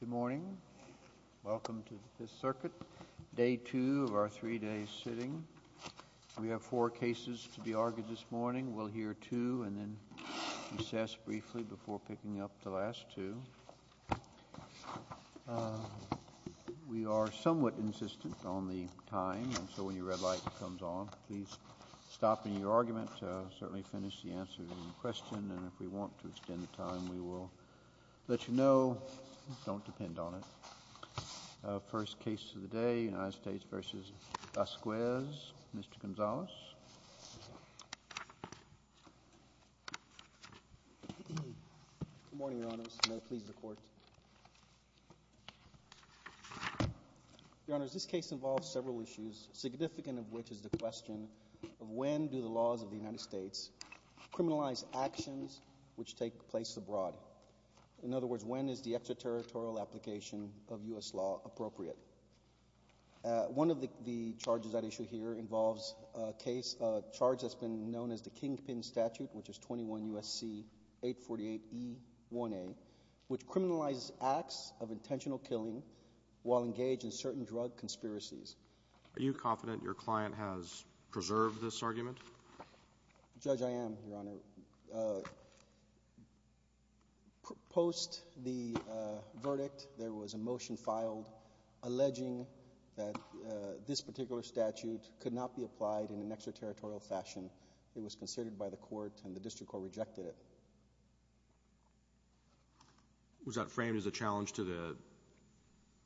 Good morning. Welcome to this circuit. Day two of our three-day sitting. We have four cases to be argued this morning. We'll hear two and then recess briefly before picking up the last two. We are somewhat insistent on the time, and so when your red light comes on, please stop in your argument, certainly finish the answer to the question, and if we want to extend the time, we will let you know. Don't depend on it. First case of the day, United States v. Vasquez. Mr. Gonzales. Good morning, Your Honors. May it please the Court. Your Honors, this case involves several issues, significant of which is the question of when do the laws of the criminalized actions which take place abroad? In other words, when is the extraterritorial application of U.S. law appropriate? One of the charges at issue here involves a case, a charge that's been known as the Kingpin Statute, which is 21 U.S.C. 848E1A, which criminalizes acts of intentional killing while engaged in certain drug conspiracies. Are you confident your client has preserved this evidence? Post the verdict, there was a motion filed alleging that this particular statute could not be applied in an extraterritorial fashion. It was considered by the Court, and the District Court rejected it. Was that framed as a challenge to the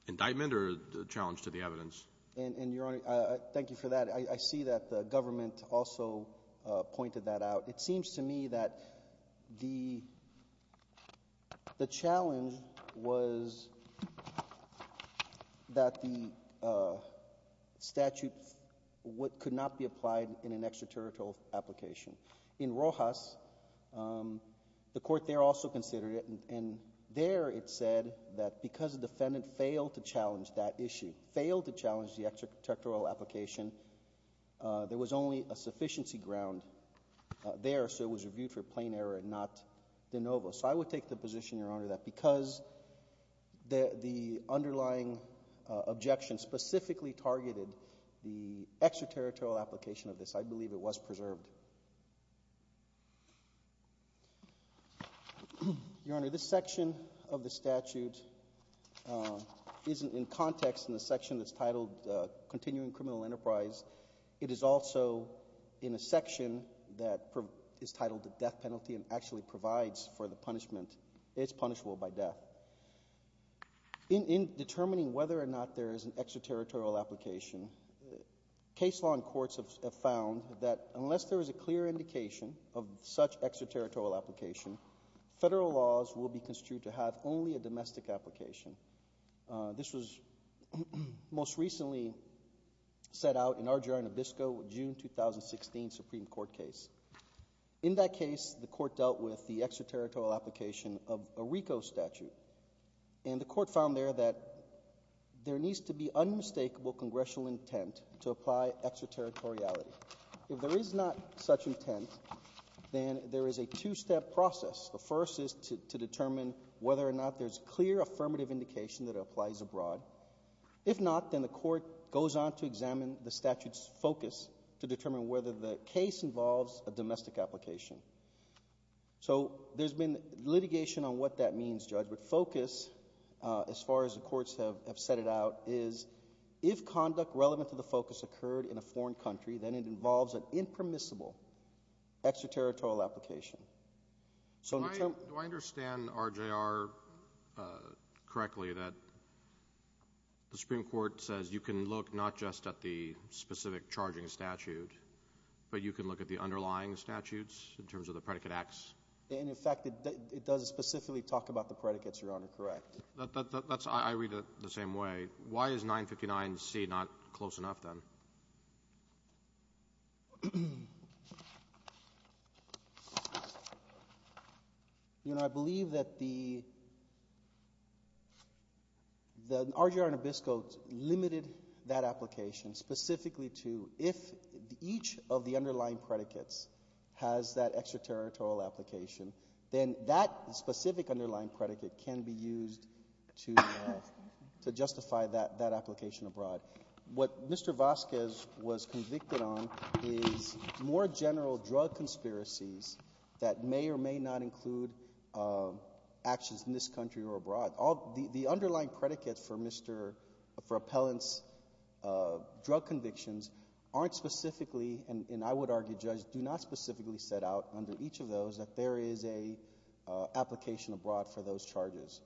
indictment or a challenge to the evidence? And, Your Honor, thank you for that. I see that the government also pointed that out. It seems to me that the challenge was that the statute could not be applied in an extraterritorial application. In Rojas, the Court there also considered it, and there it said that because the defendant failed to challenge that issue, failed to challenge the extraterritorial application, there was only a sufficiency ground there, so it was reviewed for plain error and not de novo. So I would take the position, Your Honor, that because the underlying objection specifically targeted the extraterritorial application of this, I believe it was preserved. Your Honor, this section of the statute isn't in context in the section that's titled the death penalty and actually provides for the punishment. It's punishable by death. In determining whether or not there is an extraterritorial application, case law and courts have found that unless there is a clear indication of such extraterritorial application, federal laws will be construed to have only a domestic application. This was most recently set out in Arger and Abisko, June 2016 Supreme Court case. In that case, the Court dealt with the extraterritorial application of a RICO statute, and the Court found there that there needs to be unmistakable congressional intent to apply extraterritoriality. If there is not such intent, then there is a two-step process. The first is to determine whether or not there's clear affirmative indication that it applies abroad. If not, then the Court goes on to examine the statute's focus to determine whether the case involves a domestic application. So there's been litigation on what that means, Judge, but focus, as far as the courts have set it out, is if conduct relevant to the focus occurred in a foreign country, then it involves an impermissible extraterritorial application. So do I understand RJR correctly that the Supreme Court says you can look not just at the specific charging statute, but you can look at the underlying statutes in terms of the predicate X? And in fact, it does specifically talk about the predicates, Your Honor, correct? That's, I read it the same way. Why is that? Your Honor, I believe that the RJR Nabisco limited that application specifically to if each of the underlying predicates has that extraterritorial application, then that specific underlying predicate can be used to justify that application abroad. What Mr. Vasquez was convicted on is more general drug conspiracies that may or may not include actions in this country or abroad. The underlying predicates for Mr.... for appellant's drug convictions aren't specifically, and I would argue, Judge, do not specifically set out under each of those that there is an application abroad for those charges.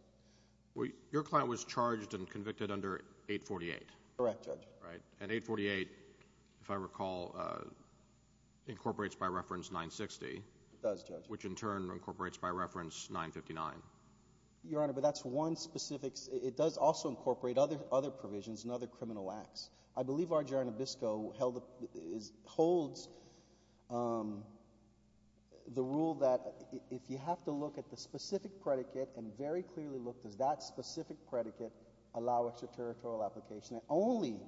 Your client was charged and convicted under 848. Correct, Judge. Right, and 848, if I recall, incorporates by reference 960. It does, Judge. Which in turn incorporates by reference 959. Your Honor, but that's one specific... it does also incorporate other provisions and other criminal acts. I believe RJR Nabisco holds the rule that if you have to look at the specific predicate and very clearly look, does that specific predicate allow extraterritorial application? It only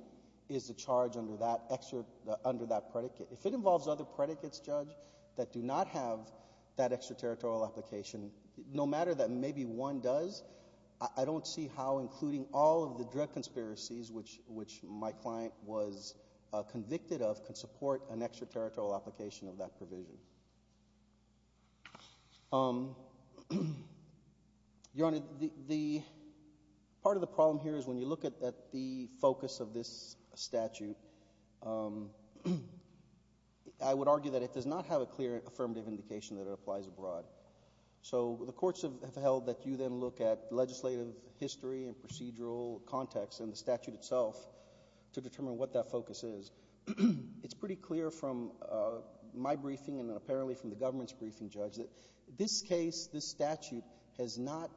is the charge under that extra... under that predicate. If it involves other predicates, Judge, that do not have that extraterritorial application, no matter that maybe one does, I don't see how including all of the drug conspiracies which my client was charged with. Your Honor, the part of the problem here is when you look at the focus of this statute, I would argue that it does not have a clear affirmative indication that it applies abroad. So the courts have held that you then look at legislative history and procedural context and the statute itself to determine what that focus is. It's pretty clear from my briefing and apparently from the government's briefing, Judge, that this case, this statute, has not...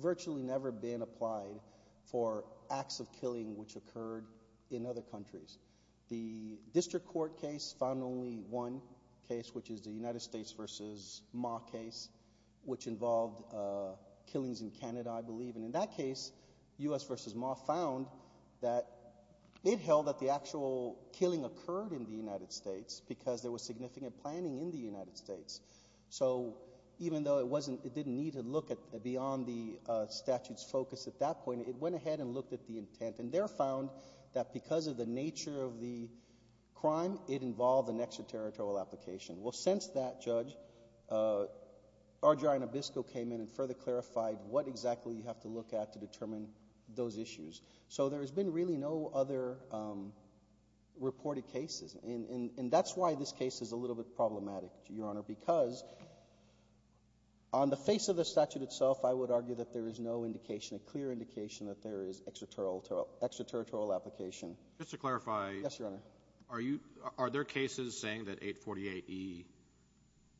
virtually never been applied for acts of killing which occurred in other countries. The District Court case found only one case, which is the United States v. Ma case, which involved killings in Canada, I believe. And in that case, U.S. v. Ma found that it held that the actual killing occurred in the United States because there was significant planning in the United States. So even though it didn't need to look beyond the statute's focus at that point, it went ahead and looked at the intent. And there found that because of the nature of the crime, it involved an extraterritorial application. Well, since that, Judge, Argyro and Abisko came in and further clarified what exactly you have to look at to determine those issues. So there has been really no other reported cases. And that's why this case is a little bit problematic, Your Honor, because on the face of the statute itself, I would argue that there is no indication, a clear indication, that there is extraterritorial application. Just to clarify... Yes, Your Honor. Are you... are there cases saying that 848E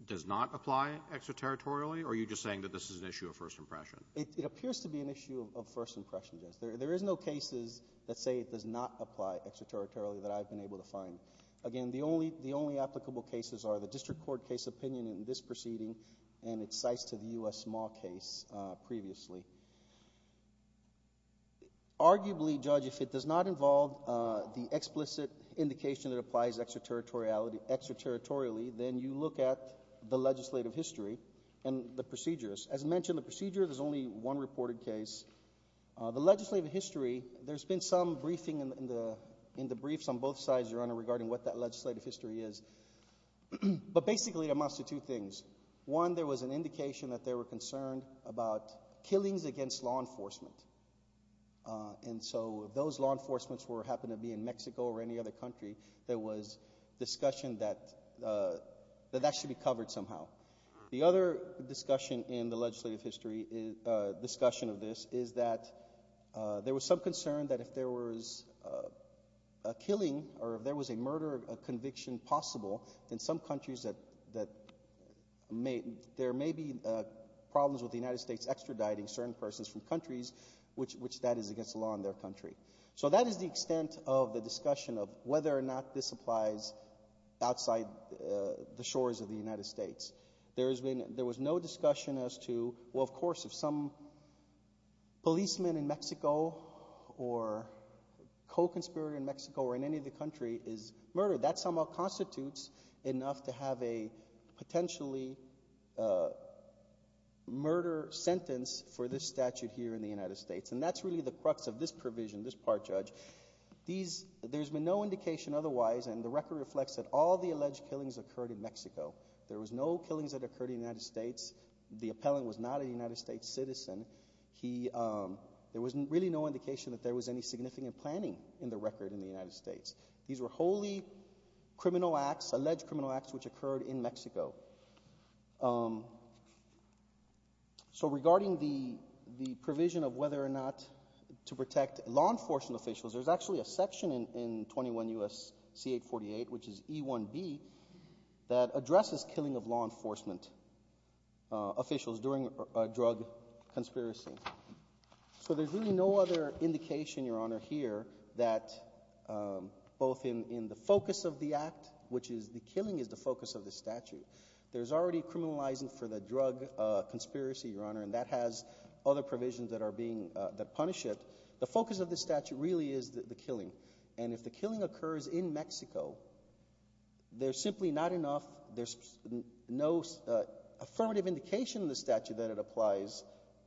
does not apply extraterritorially, or are you just saying that this is an issue of first impression? It appears to be an issue of first impression, Judge. There is no cases that say it does not apply extraterritorially that I've been able to find. Again, the only applicable cases are the District Court case opinion in this proceeding and its sites to the U.S. small case previously. Arguably, Judge, if it does not involve the explicit indication that it applies extraterritorially, then you look at the legislative history and the procedures. As mentioned, the procedure, there's only one reported case. The legislative history, there's been some briefing in the briefs on both sides, Your Honor, regarding what that legislative history is. Basically, it amounts to two things. One, there was an indication that they were concerned about killings against law enforcement. Those law enforcements happened to be in Mexico or any other country. There was discussion that that should be covered somehow. The other discussion in the legislative history, discussion of this, is that there was some concern that if there was a killing or if there was a murder conviction possible, in some countries that there may be problems with the United States extraditing certain persons from countries which that is against the law in their country. So that is the extent of the discussion of whether or not this applies outside the shores of the United States. There was no discussion as to, well, of course, if some policeman in Mexico or co-conspirator in Mexico or in any of the country is murdered, that somehow constitutes enough to have a potentially murder sentence for this statute here in the United States. And that's really the crux of this provision, this part, Judge. There's been no indication otherwise, and the record reflects that all the alleged killings occurred in Mexico. There was no killings that occurred in the United States. The appellant was not a United States citizen. There was really no indication that there was any significant planning in the record in the United States. These were wholly criminal acts, alleged criminal acts, which occurred in Mexico. So regarding the provision of whether or not to punish criminals, there's actually a section in 21 U.S.C. 848, which is E1b, that addresses killing of law enforcement officials during a drug conspiracy. So there's really no other indication, Your Honor, here that both in the focus of the act, which is the killing, is the focus of the statute. There's already criminalizing for the drug conspiracy, Your Honor, and that has other provisions that are being, that punish it. The focus of this statute really is the killing, and if the killing occurs in Mexico, there's simply not enough, there's no affirmative indication in the statute that it applies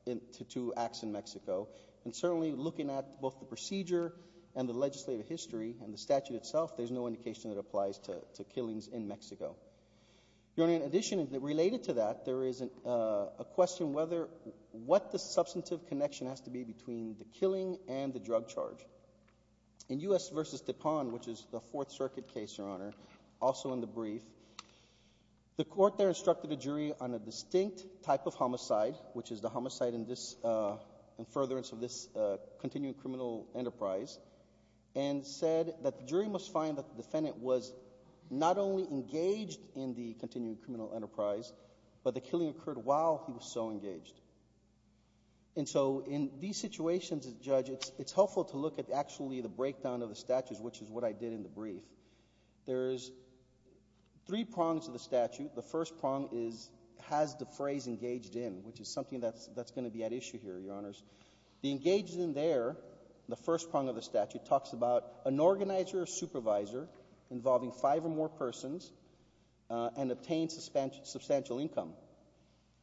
to two acts in Mexico, and certainly looking at both the procedure and the legislative history and the statute itself, there's no indication that applies to killings in Mexico. Your Honor, in addition, related to that, there is a question whether, what the substantive connection has to be between the killing and the drug charge. In U.S. v. Tepon, which is the Fourth Circuit case, Your Honor, also in the brief, the court there instructed a jury on a distinct type of homicide, which is the homicide in this, in furtherance of this continuing criminal enterprise, and said that the jury must find that the defendant was not only engaged in the continuing criminal enterprise, but the killing occurred while he was so And so in these situations, Judge, it's helpful to look at actually the breakdown of the statutes, which is what I did in the brief. There's three prongs to the statute. The first prong is, has the phrase engaged in, which is something that's, that's going to be at issue here, Your Honors. The engaged in there, the first prong of the statute, talks about an organizer or supervisor involving five or more persons and obtained substantial income.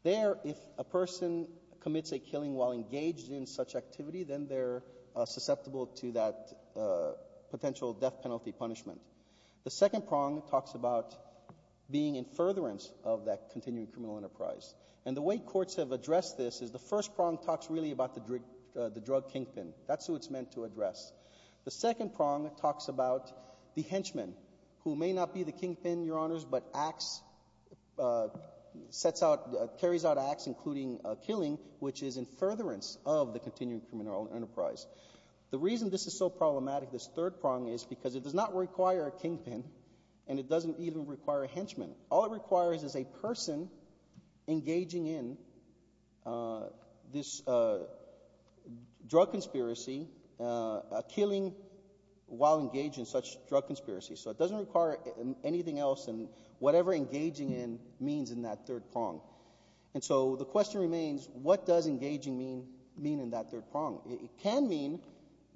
There, if a person commits a killing while engaged in such activity, then they're susceptible to that potential death penalty punishment. The second prong talks about being in furtherance of that continuing criminal enterprise. And the way courts have addressed this is the first prong talks really about the drug kink pin. That's who it's meant to address. The second prong talks about the henchman, who may not be the kink pin, Your Honors, but acts, sets out, carries out acts, including killing, which is in furtherance of the continuing criminal enterprise. The reason this is so problematic, this third prong, is because it does not require a kink pin and it doesn't even require a henchman. All it requires is a person engaging in this drug conspiracy, killing while engaged in such drug conspiracy. So it doesn't require anything else and whatever engaging in that third prong. And so the question remains, what does engaging mean, mean in that third prong? It can mean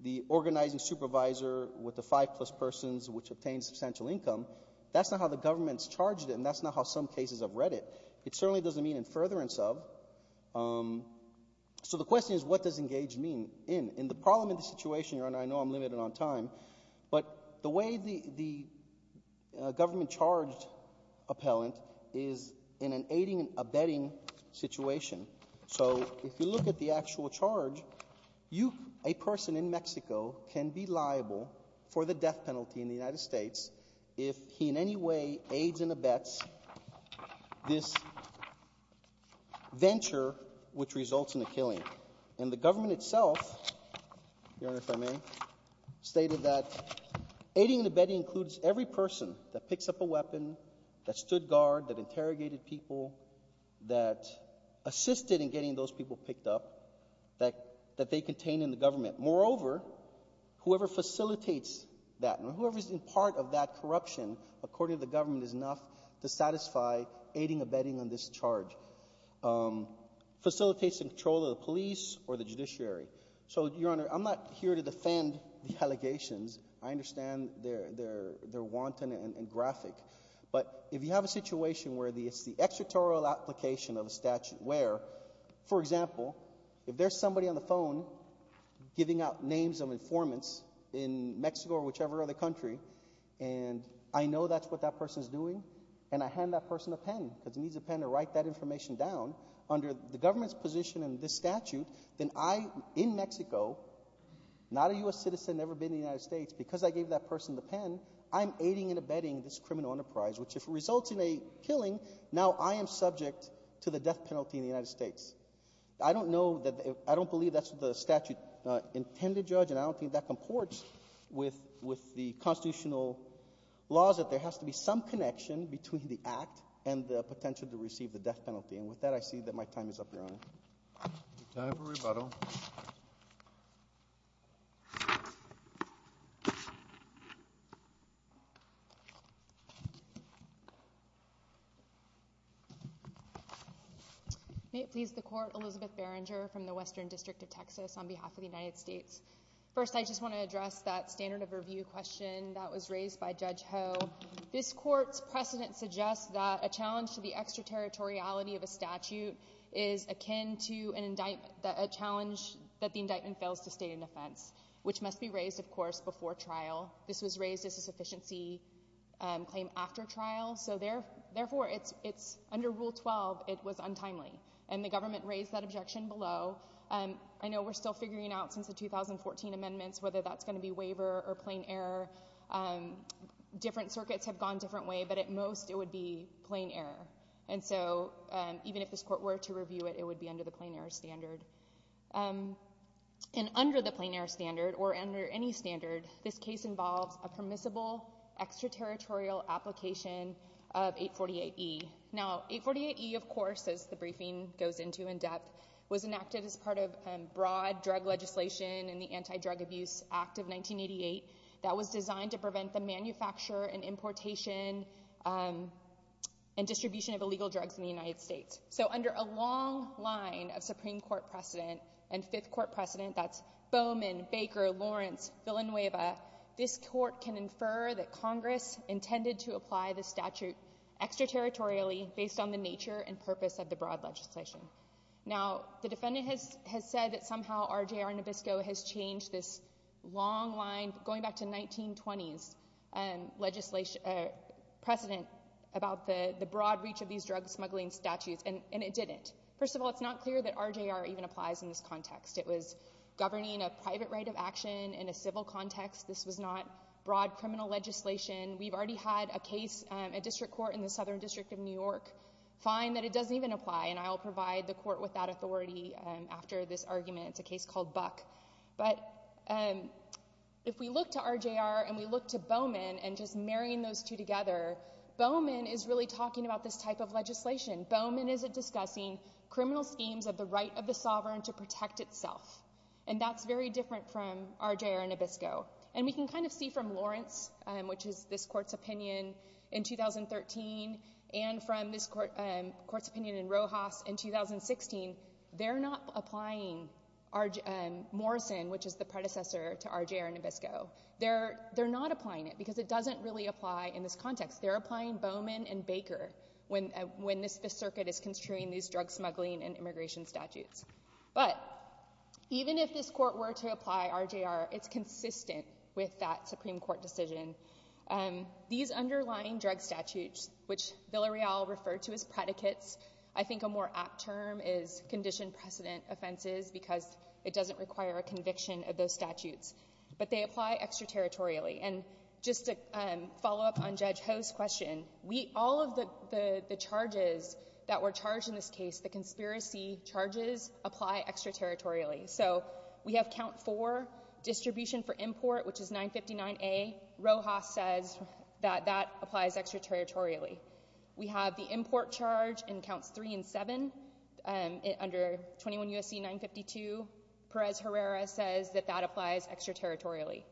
the organizing supervisor with the five plus persons, which obtains substantial income. That's not how the government's charged it and that's not how some cases I've read it. It certainly doesn't mean in furtherance of. So the question is, what does engage mean in? And the problem in this situation, Your Honor, I know I'm limited on time, but the way the government charged appellant is in an aiding and abetting situation. So if you look at the actual charge, you, a person in Mexico, can be liable for the death penalty in the United States if he in any way aids and abets this venture which results in a killing. And the government itself, Your Honor, if I may, stated that aiding and abetting includes every person that picks up a weapon, that stood guard, that interrogated people, that assisted in getting those people picked up, that they contain in the government. Moreover, whoever facilitates that and whoever's in part of that corruption, according to the government, is enough to satisfy aiding and abetting on this charge. Facilitates in control of the police or the judiciary. So, Your Honor, I'm not here to defend the allegations. I understand they're wanton and graphic. But if you have a situation where it's the extraterritorial application of a statute where, for example, if there's somebody on the phone giving out names of informants in Mexico or whichever other country, and I know that's what that person's doing, and I hand that person a pen because he needs a pen to write that information down, under the government's position in this statute, then I, in being the only U.S. citizen ever been in the United States, because I gave that person the pen, I'm aiding and abetting this criminal enterprise, which if it results in a killing, now I am subject to the death penalty in the United States. I don't know that, I don't believe that's what the statute intended, Judge, and I don't think that comports with the constitutional laws, that there has to be some connection between the act and the potential to receive the death penalty. And with that, I see that my time is up, Your Honor. Time for rebuttal. May it please the Court, Elizabeth Berenger from the Western District of Texas on behalf of the United States. First, I just want to address that standard of review question that was raised by Judge Ho. This Court's precedent suggests that a defendant is subject to a challenge that the indictment fails to state an offense, which must be raised, of course, before trial. This was raised as a sufficiency claim after trial, so therefore, under Rule 12, it was untimely, and the government raised that objection below. I know we're still figuring out, since the 2014 amendments, whether that's going to be waiver or plain error. Different circuits have gone different ways, but at most it would be plain error, and so even if this Court were to review it, it would be under the plain error standard. And under the plain error standard, or under any standard, this case involves a permissible extraterritorial application of 848E. Now, 848E, of course, as the briefing goes into in depth, was enacted as part of broad drug legislation in the Anti-Drug Abuse Act of 1988 that was designed to prevent the manufacture and So under a long line of Supreme Court precedent and Fifth Court precedent, that's Bowman, Baker, Lawrence, Villanueva, this Court can infer that Congress intended to apply the statute extraterritorially based on the nature and purpose of the broad legislation. Now, the defendant has said that somehow RJR Nabisco has changed this long line, going back to 1920s, precedent about the broad reach of these drug smuggling statutes, and it didn't. First of all, it's not clear that RJR even applies in this context. It was governing a private right of action in a civil context. This was not broad criminal legislation. We've already had a case, a district court in the Southern District of New York find that it doesn't even apply, and I will provide the Court with that authority after this argument. It's a case called Buck. But if we look to RJR and we look to Bowman, and just marrying those two together, Bowman is really talking about this type of legislation. Bowman isn't discussing criminal schemes of the right of the sovereign to protect itself, and that's very different from RJR Nabisco. And we can kind of see from Lawrence, which is this Court's opinion in 2013, and from this Court's opinion in Rojas in 2016, they're not applying Morrison, which is the predecessor to RJR Nabisco. They're not applying it because it doesn't really apply in this context. They're applying Bowman and Baker when this circuit is construing these drug smuggling and immigration statutes. But even if this Court were to apply RJR, it's consistent with that Supreme Court decision. These underlying drug statutes, which Villarreal referred to as predicates, I think a more apt term is condition precedent offenses because it doesn't require a conviction of those statutes. But they apply extraterritorially. And just to follow up on Judge Ho's question, we — all of the charges that were charged in this case, the conspiracy charges, apply extraterritorially. So we have count 4, distribution for import, which is 959A. Rojas says that that applies extraterritorially. We have the import charge in counts 3 and 7, under 21 U.S.C. 952. Perez-Herrera says that that applies extraterritorially.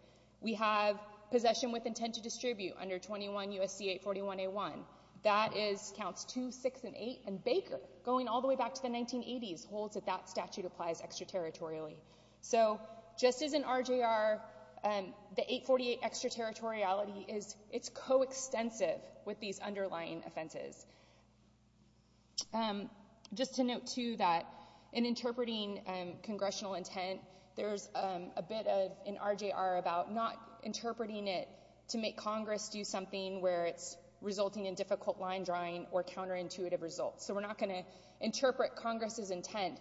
We have possession with intent to distribute under 21 U.S.C. 841A1. That is counts 2, 6, and 8. And Baker, going all the way back to the 1980s, holds that that statute applies extraterritorially. So just as in RJR, the 848 extraterritoriality is — it's coextensive with these underlying offenses. Just to note, too, that in interpreting congressional intent, there's a bit of, in RJR, about not interpreting it to make Congress do something where it's resulting in difficult line drawing or counterintuitive results. So we're not going to interpret Congress's intent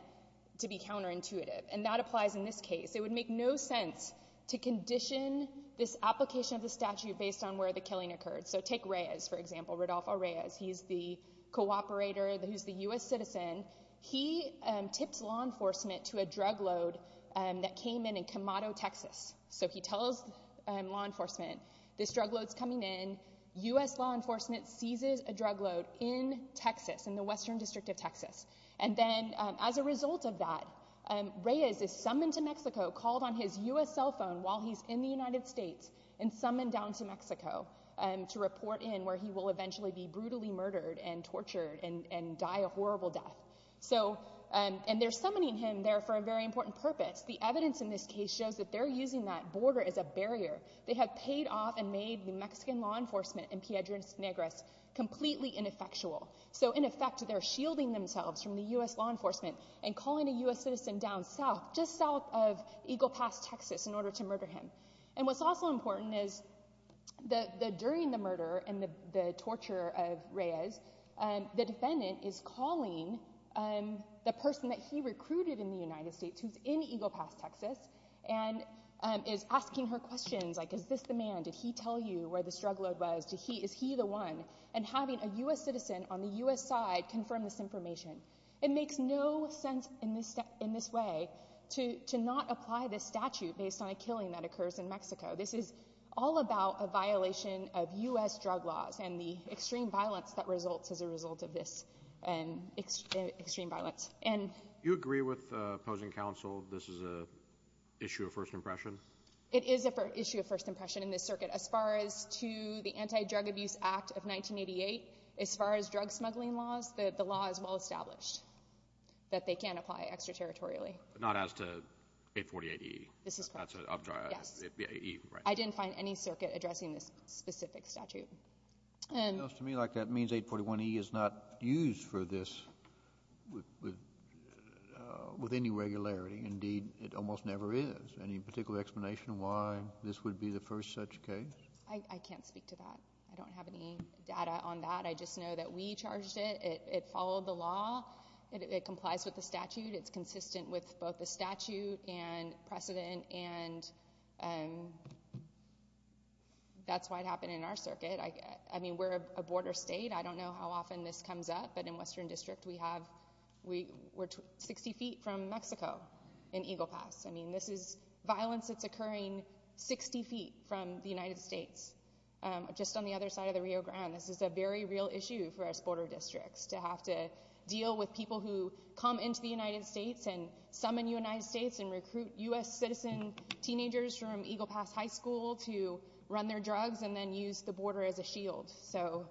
to be counterintuitive. And that applies in this case. It would make no sense to condition this application of the statute based on where the killing occurred. So take Reyes, for example, Rodolfo Reyes. He's the cooperator who's the U.S. citizen. He tips law enforcement to a drug load that came in in Camado, Texas. So he tells law enforcement, this drug load's coming in. U.S. law enforcement seizes a drug load in Texas, in the Western District of Texas. And then, as a result of that, Reyes is summoned to Mexico, called on his U.S. cell phone while he's in the United States, and summoned down to Mexico to report in where he will eventually be brutally murdered and tortured and die a horrible death. So — and they're summoning him there for a very important purpose. The evidence in this case shows that they're using that border as a barrier. They have paid off and made the Mexican law enforcement in Piedras Negras completely ineffectual. So, in effect, they're shielding themselves from the U.S. law enforcement and calling a U.S. citizen down south, just south of Eagle Pass, Texas, in order to murder him. And what's also important is that, during the murder and the torture of Reyes, the defendant is calling the person that he recruited in the United States, who's in Eagle Pass, Texas, and is asking her questions like, is this the man? Did he tell you where this drug load was? Is he the one? And having a U.S. citizen on the U.S. side confirm this information. It makes no sense in this way to not apply this statute based on a killing that occurs in Mexico. This is all about a violation of U.S. drug laws and the extreme violence that results as a result of this extreme violence. And — You agree with opposing counsel this is an issue of first impression? It is an issue of first impression in this circuit. As far as to the Anti-Drug Abuse Act of 1988, as far as drug smuggling laws, the law is well-established that they can't apply extraterritorially. Not as to 848E? This is correct, yes. I didn't find any circuit addressing this specific statute. And — To me, like, that means 841E is not used for this with any regularity. Indeed, it almost never is. Any particular explanation why this would be the first such case? I can't speak to that. I don't have any data on that. I just know that we charged it. It followed the law. It complies with the statute. It's consistent with both the statute and precedent. And that's why it happened in our circuit. I mean, we're a border state. I don't know how often this comes up. But in Western District, we have — we're 60 feet from just on the other side of the Rio Grande. This is a very real issue for us border districts to have to deal with people who come into the United States and summon United States and recruit U.S. citizen teenagers from Eagle Pass High School to run their drugs and then use the border as a shield. So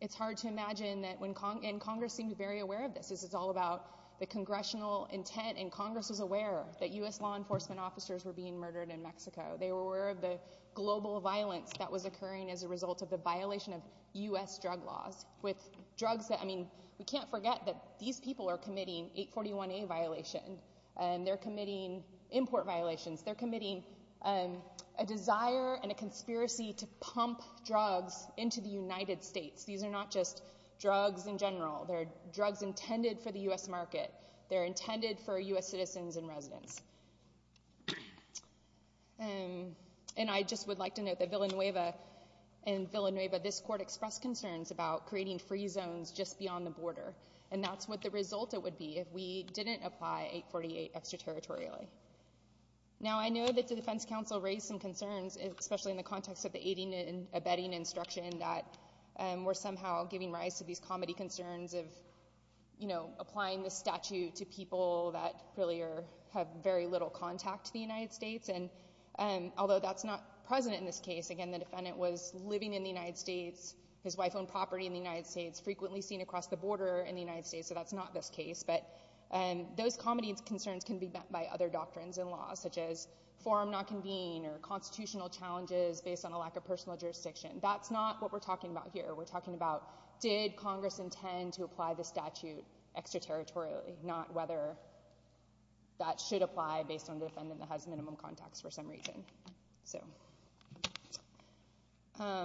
it's hard to imagine that when — and Congress seemed very aware of this. This is all about the congressional intent. And Congress was aware that U.S. law enforcement officers were being murdered in Mexico. They were aware of the global violence that was occurring as a result of the violation of U.S. drug laws with drugs that — I mean, we can't forget that these people are committing 841A violation. And they're committing import violations. They're committing a desire and a conspiracy to pump drugs into the United States. These are not just drugs in general. They're drugs intended for the U.S. market. They're intended for U.S. citizens and residents. And I just would like to note that Villanueva — in Villanueva, this court expressed concerns about creating free zones just beyond the border. And that's what the result would be if we didn't apply 848 extraterritorially. Now, I know that the Defense Council raised some concerns, especially in the context of the aiding and abetting instruction that were somehow giving rise to these comedy concerns of, you know, applying the statute to people that really are — have very little contact to the United States. And although that's not present in this case — again, the defendant was living in the United States, his wife owned property in the United States, frequently seen across the border in the United States, so that's not this case — but those comedy concerns can be met by other doctrines and laws, such as forum not convene or constitutional challenges based on a lack of personal jurisdiction. That's not what we're talking about here. We're talking about did Congress intend to apply the that has minimum contacts for some reason. So — I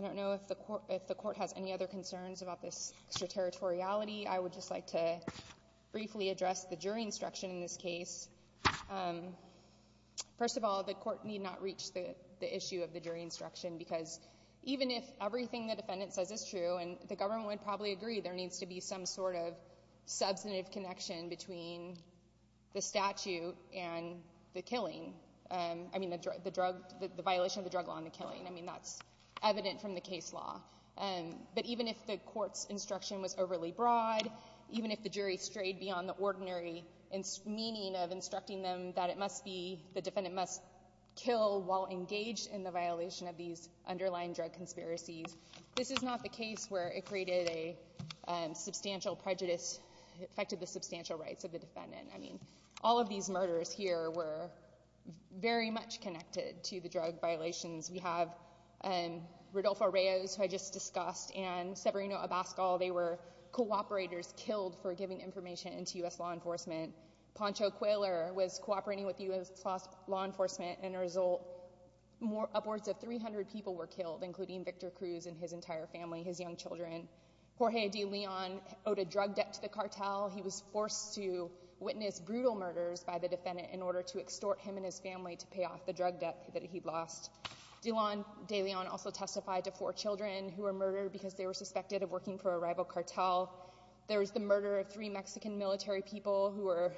don't know if the court has any other concerns about this extraterritoriality. I would just like to briefly address the jury instruction in this case. First of all, the court need not reach the issue of the jury instruction, because even if everything the defendant says is true — and the government would probably agree there needs to be some sort of substantive connection between the statute and the killing — I mean, the drug — the violation of the drug law and the killing. I mean, that's evident from the case law. But even if the court's instruction was overly broad, even if the jury strayed beyond the ordinary meaning of instructing them that it must be — the defendant must kill while engaged in the violation of these prejudices, it affected the substantial rights of the defendant. I mean, all of these murders here were very much connected to the drug violations. We have Rodolfo Reyes, who I just discussed, and Severino Abascal. They were cooperators killed for giving information into U.S. law enforcement. Pancho Cuellar was cooperating with U.S. law enforcement. And as a result, upwards of 300 people were killed, including Victor Cruz and his entire family, his young children. Jorge de Leon owed a drug debt to the cartel. He was forced to witness brutal murders by the defendant in order to extort him and his family to pay off the drug debt that he'd lost. De Leon also testified to four children who were murdered because they were suspected of working for a rival cartel. There was the murder of three Mexican military people who were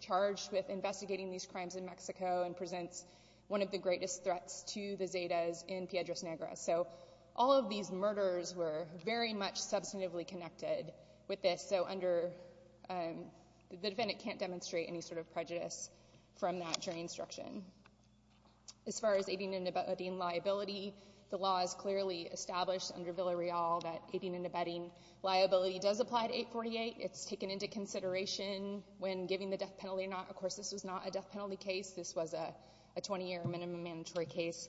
charged with investigating these crimes in Mexico and presents one of the greatest threats to the Zetas in Piedras Negras. So, all of these murders were very much substantively connected with this. So, the defendant can't demonstrate any sort of prejudice from that jury instruction. As far as aiding and abetting liability, the law is clearly established under Villa Real that aiding and abetting liability does apply to 848. It's taken into consideration when giving the death penalty or not. Of course, this was not a death penalty case. This was a death penalty case.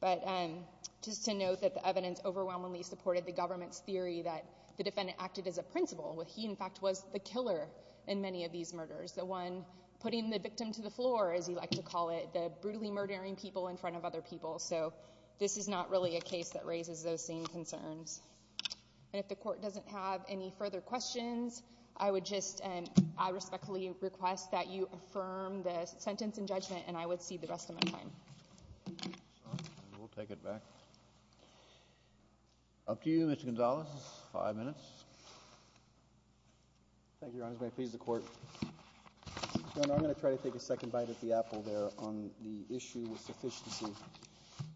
The evidence overwhelmingly supported the government's theory that the defendant acted as a principal. He, in fact, was the killer in many of these murders, the one putting the victim to the floor, as you like to call it, the brutally murdering people in front of other people. So, this is not really a case that raises those same concerns. And if the court doesn't have any further questions, I would just respectfully request that you affirm the sentence in judgment, and I would cede the rest of my time. We'll take it back. Up to you, Mr. Gonzalez, five minutes. Thank you, Your Honor. May it please the Court. Your Honor, I'm going to try to take a second bite at the apple there on the issue of sufficiency.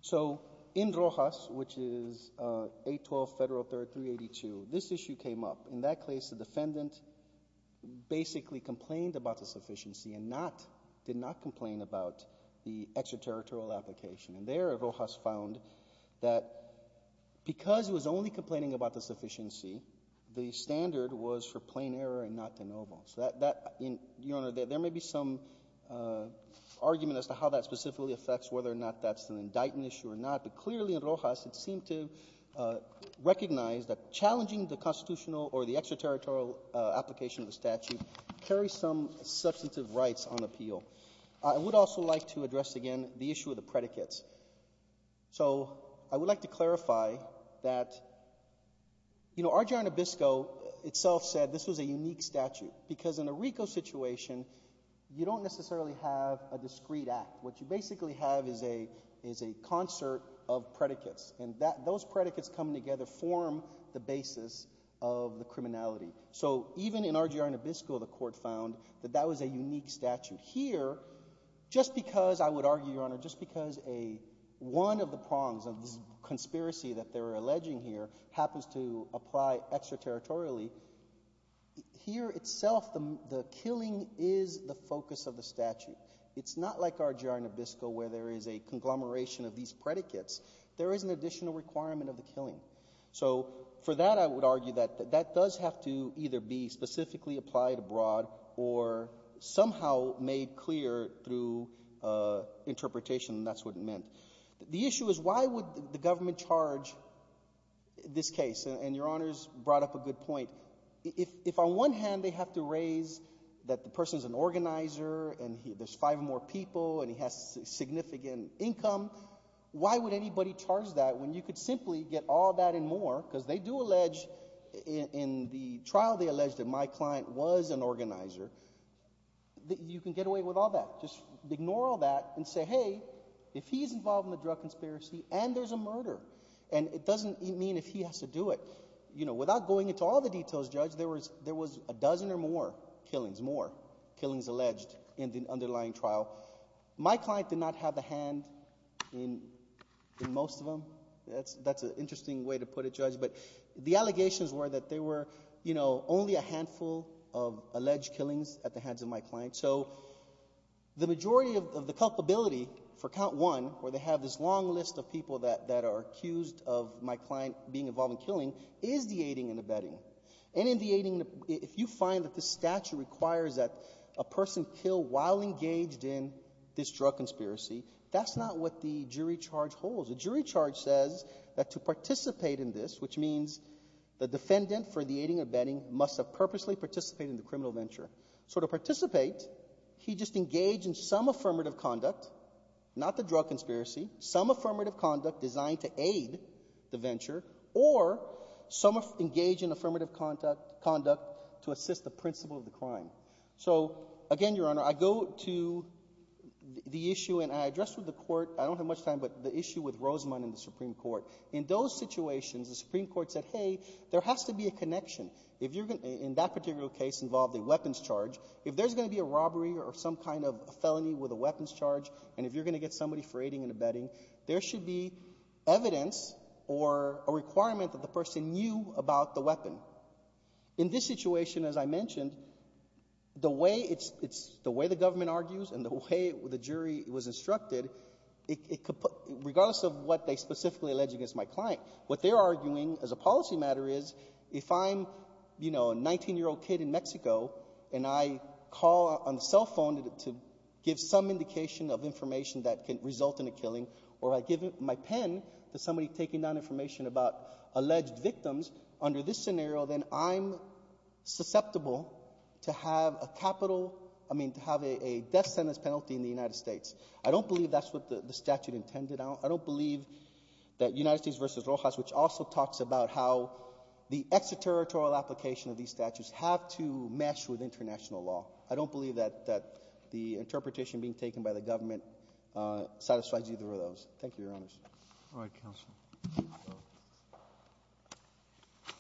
So, in Rojas, which is 812 Federal Third 382, this issue came up. In that case, the defendant basically complained about the sufficiency and not — did not complain about the extraterritorial application. And there, Rojas found that because he was only complaining about the sufficiency, the standard was for plain error and not de novo. So that — that — Your Honor, there may be some argument as to how that specifically affects whether or not that's an indictment issue or not, but clearly, in Rojas, it seemed to recognize that challenging the constitutional or the extraterritorial application of the statute carries some substantive rights on appeal. I would also like to address, again, the issue of the predicates. So, I would like to clarify that, you know, RJ Anabisco itself said this was a unique statute, because in a RICO situation, you don't necessarily have a discrete act. What you basically have is a — is a concert of predicates. And that — those predicates coming together form the basis of the criminality. So, even in RJ Anabisco, the Court found that that was a unique statute. Here, just because — I would argue, Your Honor, just because a — one of the prongs of this conspiracy that they're alleging here happens to apply extraterritorially, here itself, the — the killing is the focus of the statute. It's not like RJ Anabisco, where there is a conglomeration of these predicates. There is an additional requirement of the killing. So, for that, I would argue that that does have to either be specifically applied abroad or somehow made clear through interpretation, and that's what it meant. The issue is, why would the government charge this case? And Your Honor's brought up a good point. If, on one hand, they have to raise that the person's an organizer, and there's five more people, and he has significant income, why would anybody charge that, when you could simply get all that and more? Because they do allege — in the trial, they allege that my client was an organizer. You can get away with all that. Just ignore all that and say, hey, if he's involved in the drug conspiracy, and there's a murder, and it doesn't mean if he has to do it. You know, without going into all the details, Judge, there was — there was a dozen or more killings — more my client did not have a hand in most of them. That's an interesting way to put it, Judge. But the allegations were that there were, you know, only a handful of alleged killings at the hands of my client. So the majority of the culpability for count one, where they have this long list of people that are accused of my client being involved in killing, is the aiding and abetting. And in the aiding and — if you find that the statute requires that a person kill while engaged in this drug conspiracy, that's not what the jury charge holds. The jury charge says that to participate in this, which means the defendant for the aiding and abetting must have purposely participated in the criminal venture. So to participate, he just engaged in some affirmative conduct — not the drug conspiracy — some affirmative conduct designed to aid the venture, or some engage in affirmative conduct to assist the principle of the crime. So, again, Your Honor, I go to the issue, and I addressed with the Court — I don't have much time — but the issue with Rosamond and the Supreme Court. In those situations, the Supreme Court said, hey, there has to be a connection. If you're — in that particular case involved a weapons charge, if there's going to be a robbery or some kind of felony with a weapons charge, and if you're going to get somebody for aiding and abetting, there should be evidence or a requirement that the person knew about the weapon. In this situation, as I mentioned, the way it's — it's — the way the government argues and the way the jury was instructed, it could — regardless of what they specifically alleged against my client, what they're arguing as a policy matter is, if I'm, you know, a 19-year-old kid in Mexico, and I call on the cell phone to give some indication of information that can result in a killing, or I give my pen to somebody taking down information about alleged victims, under this scenario, then I'm susceptible to have a capital — I mean, to have a death sentence penalty in the United States. I don't believe that's what the statute intended. I don't believe that United States v. Rojas, which also talks about how the extraterritorial application of these statutes have to mesh with international law. I don't believe that the interpretation being taken by the government satisfies either of those. Thank you, Your Honors. All right, counsel.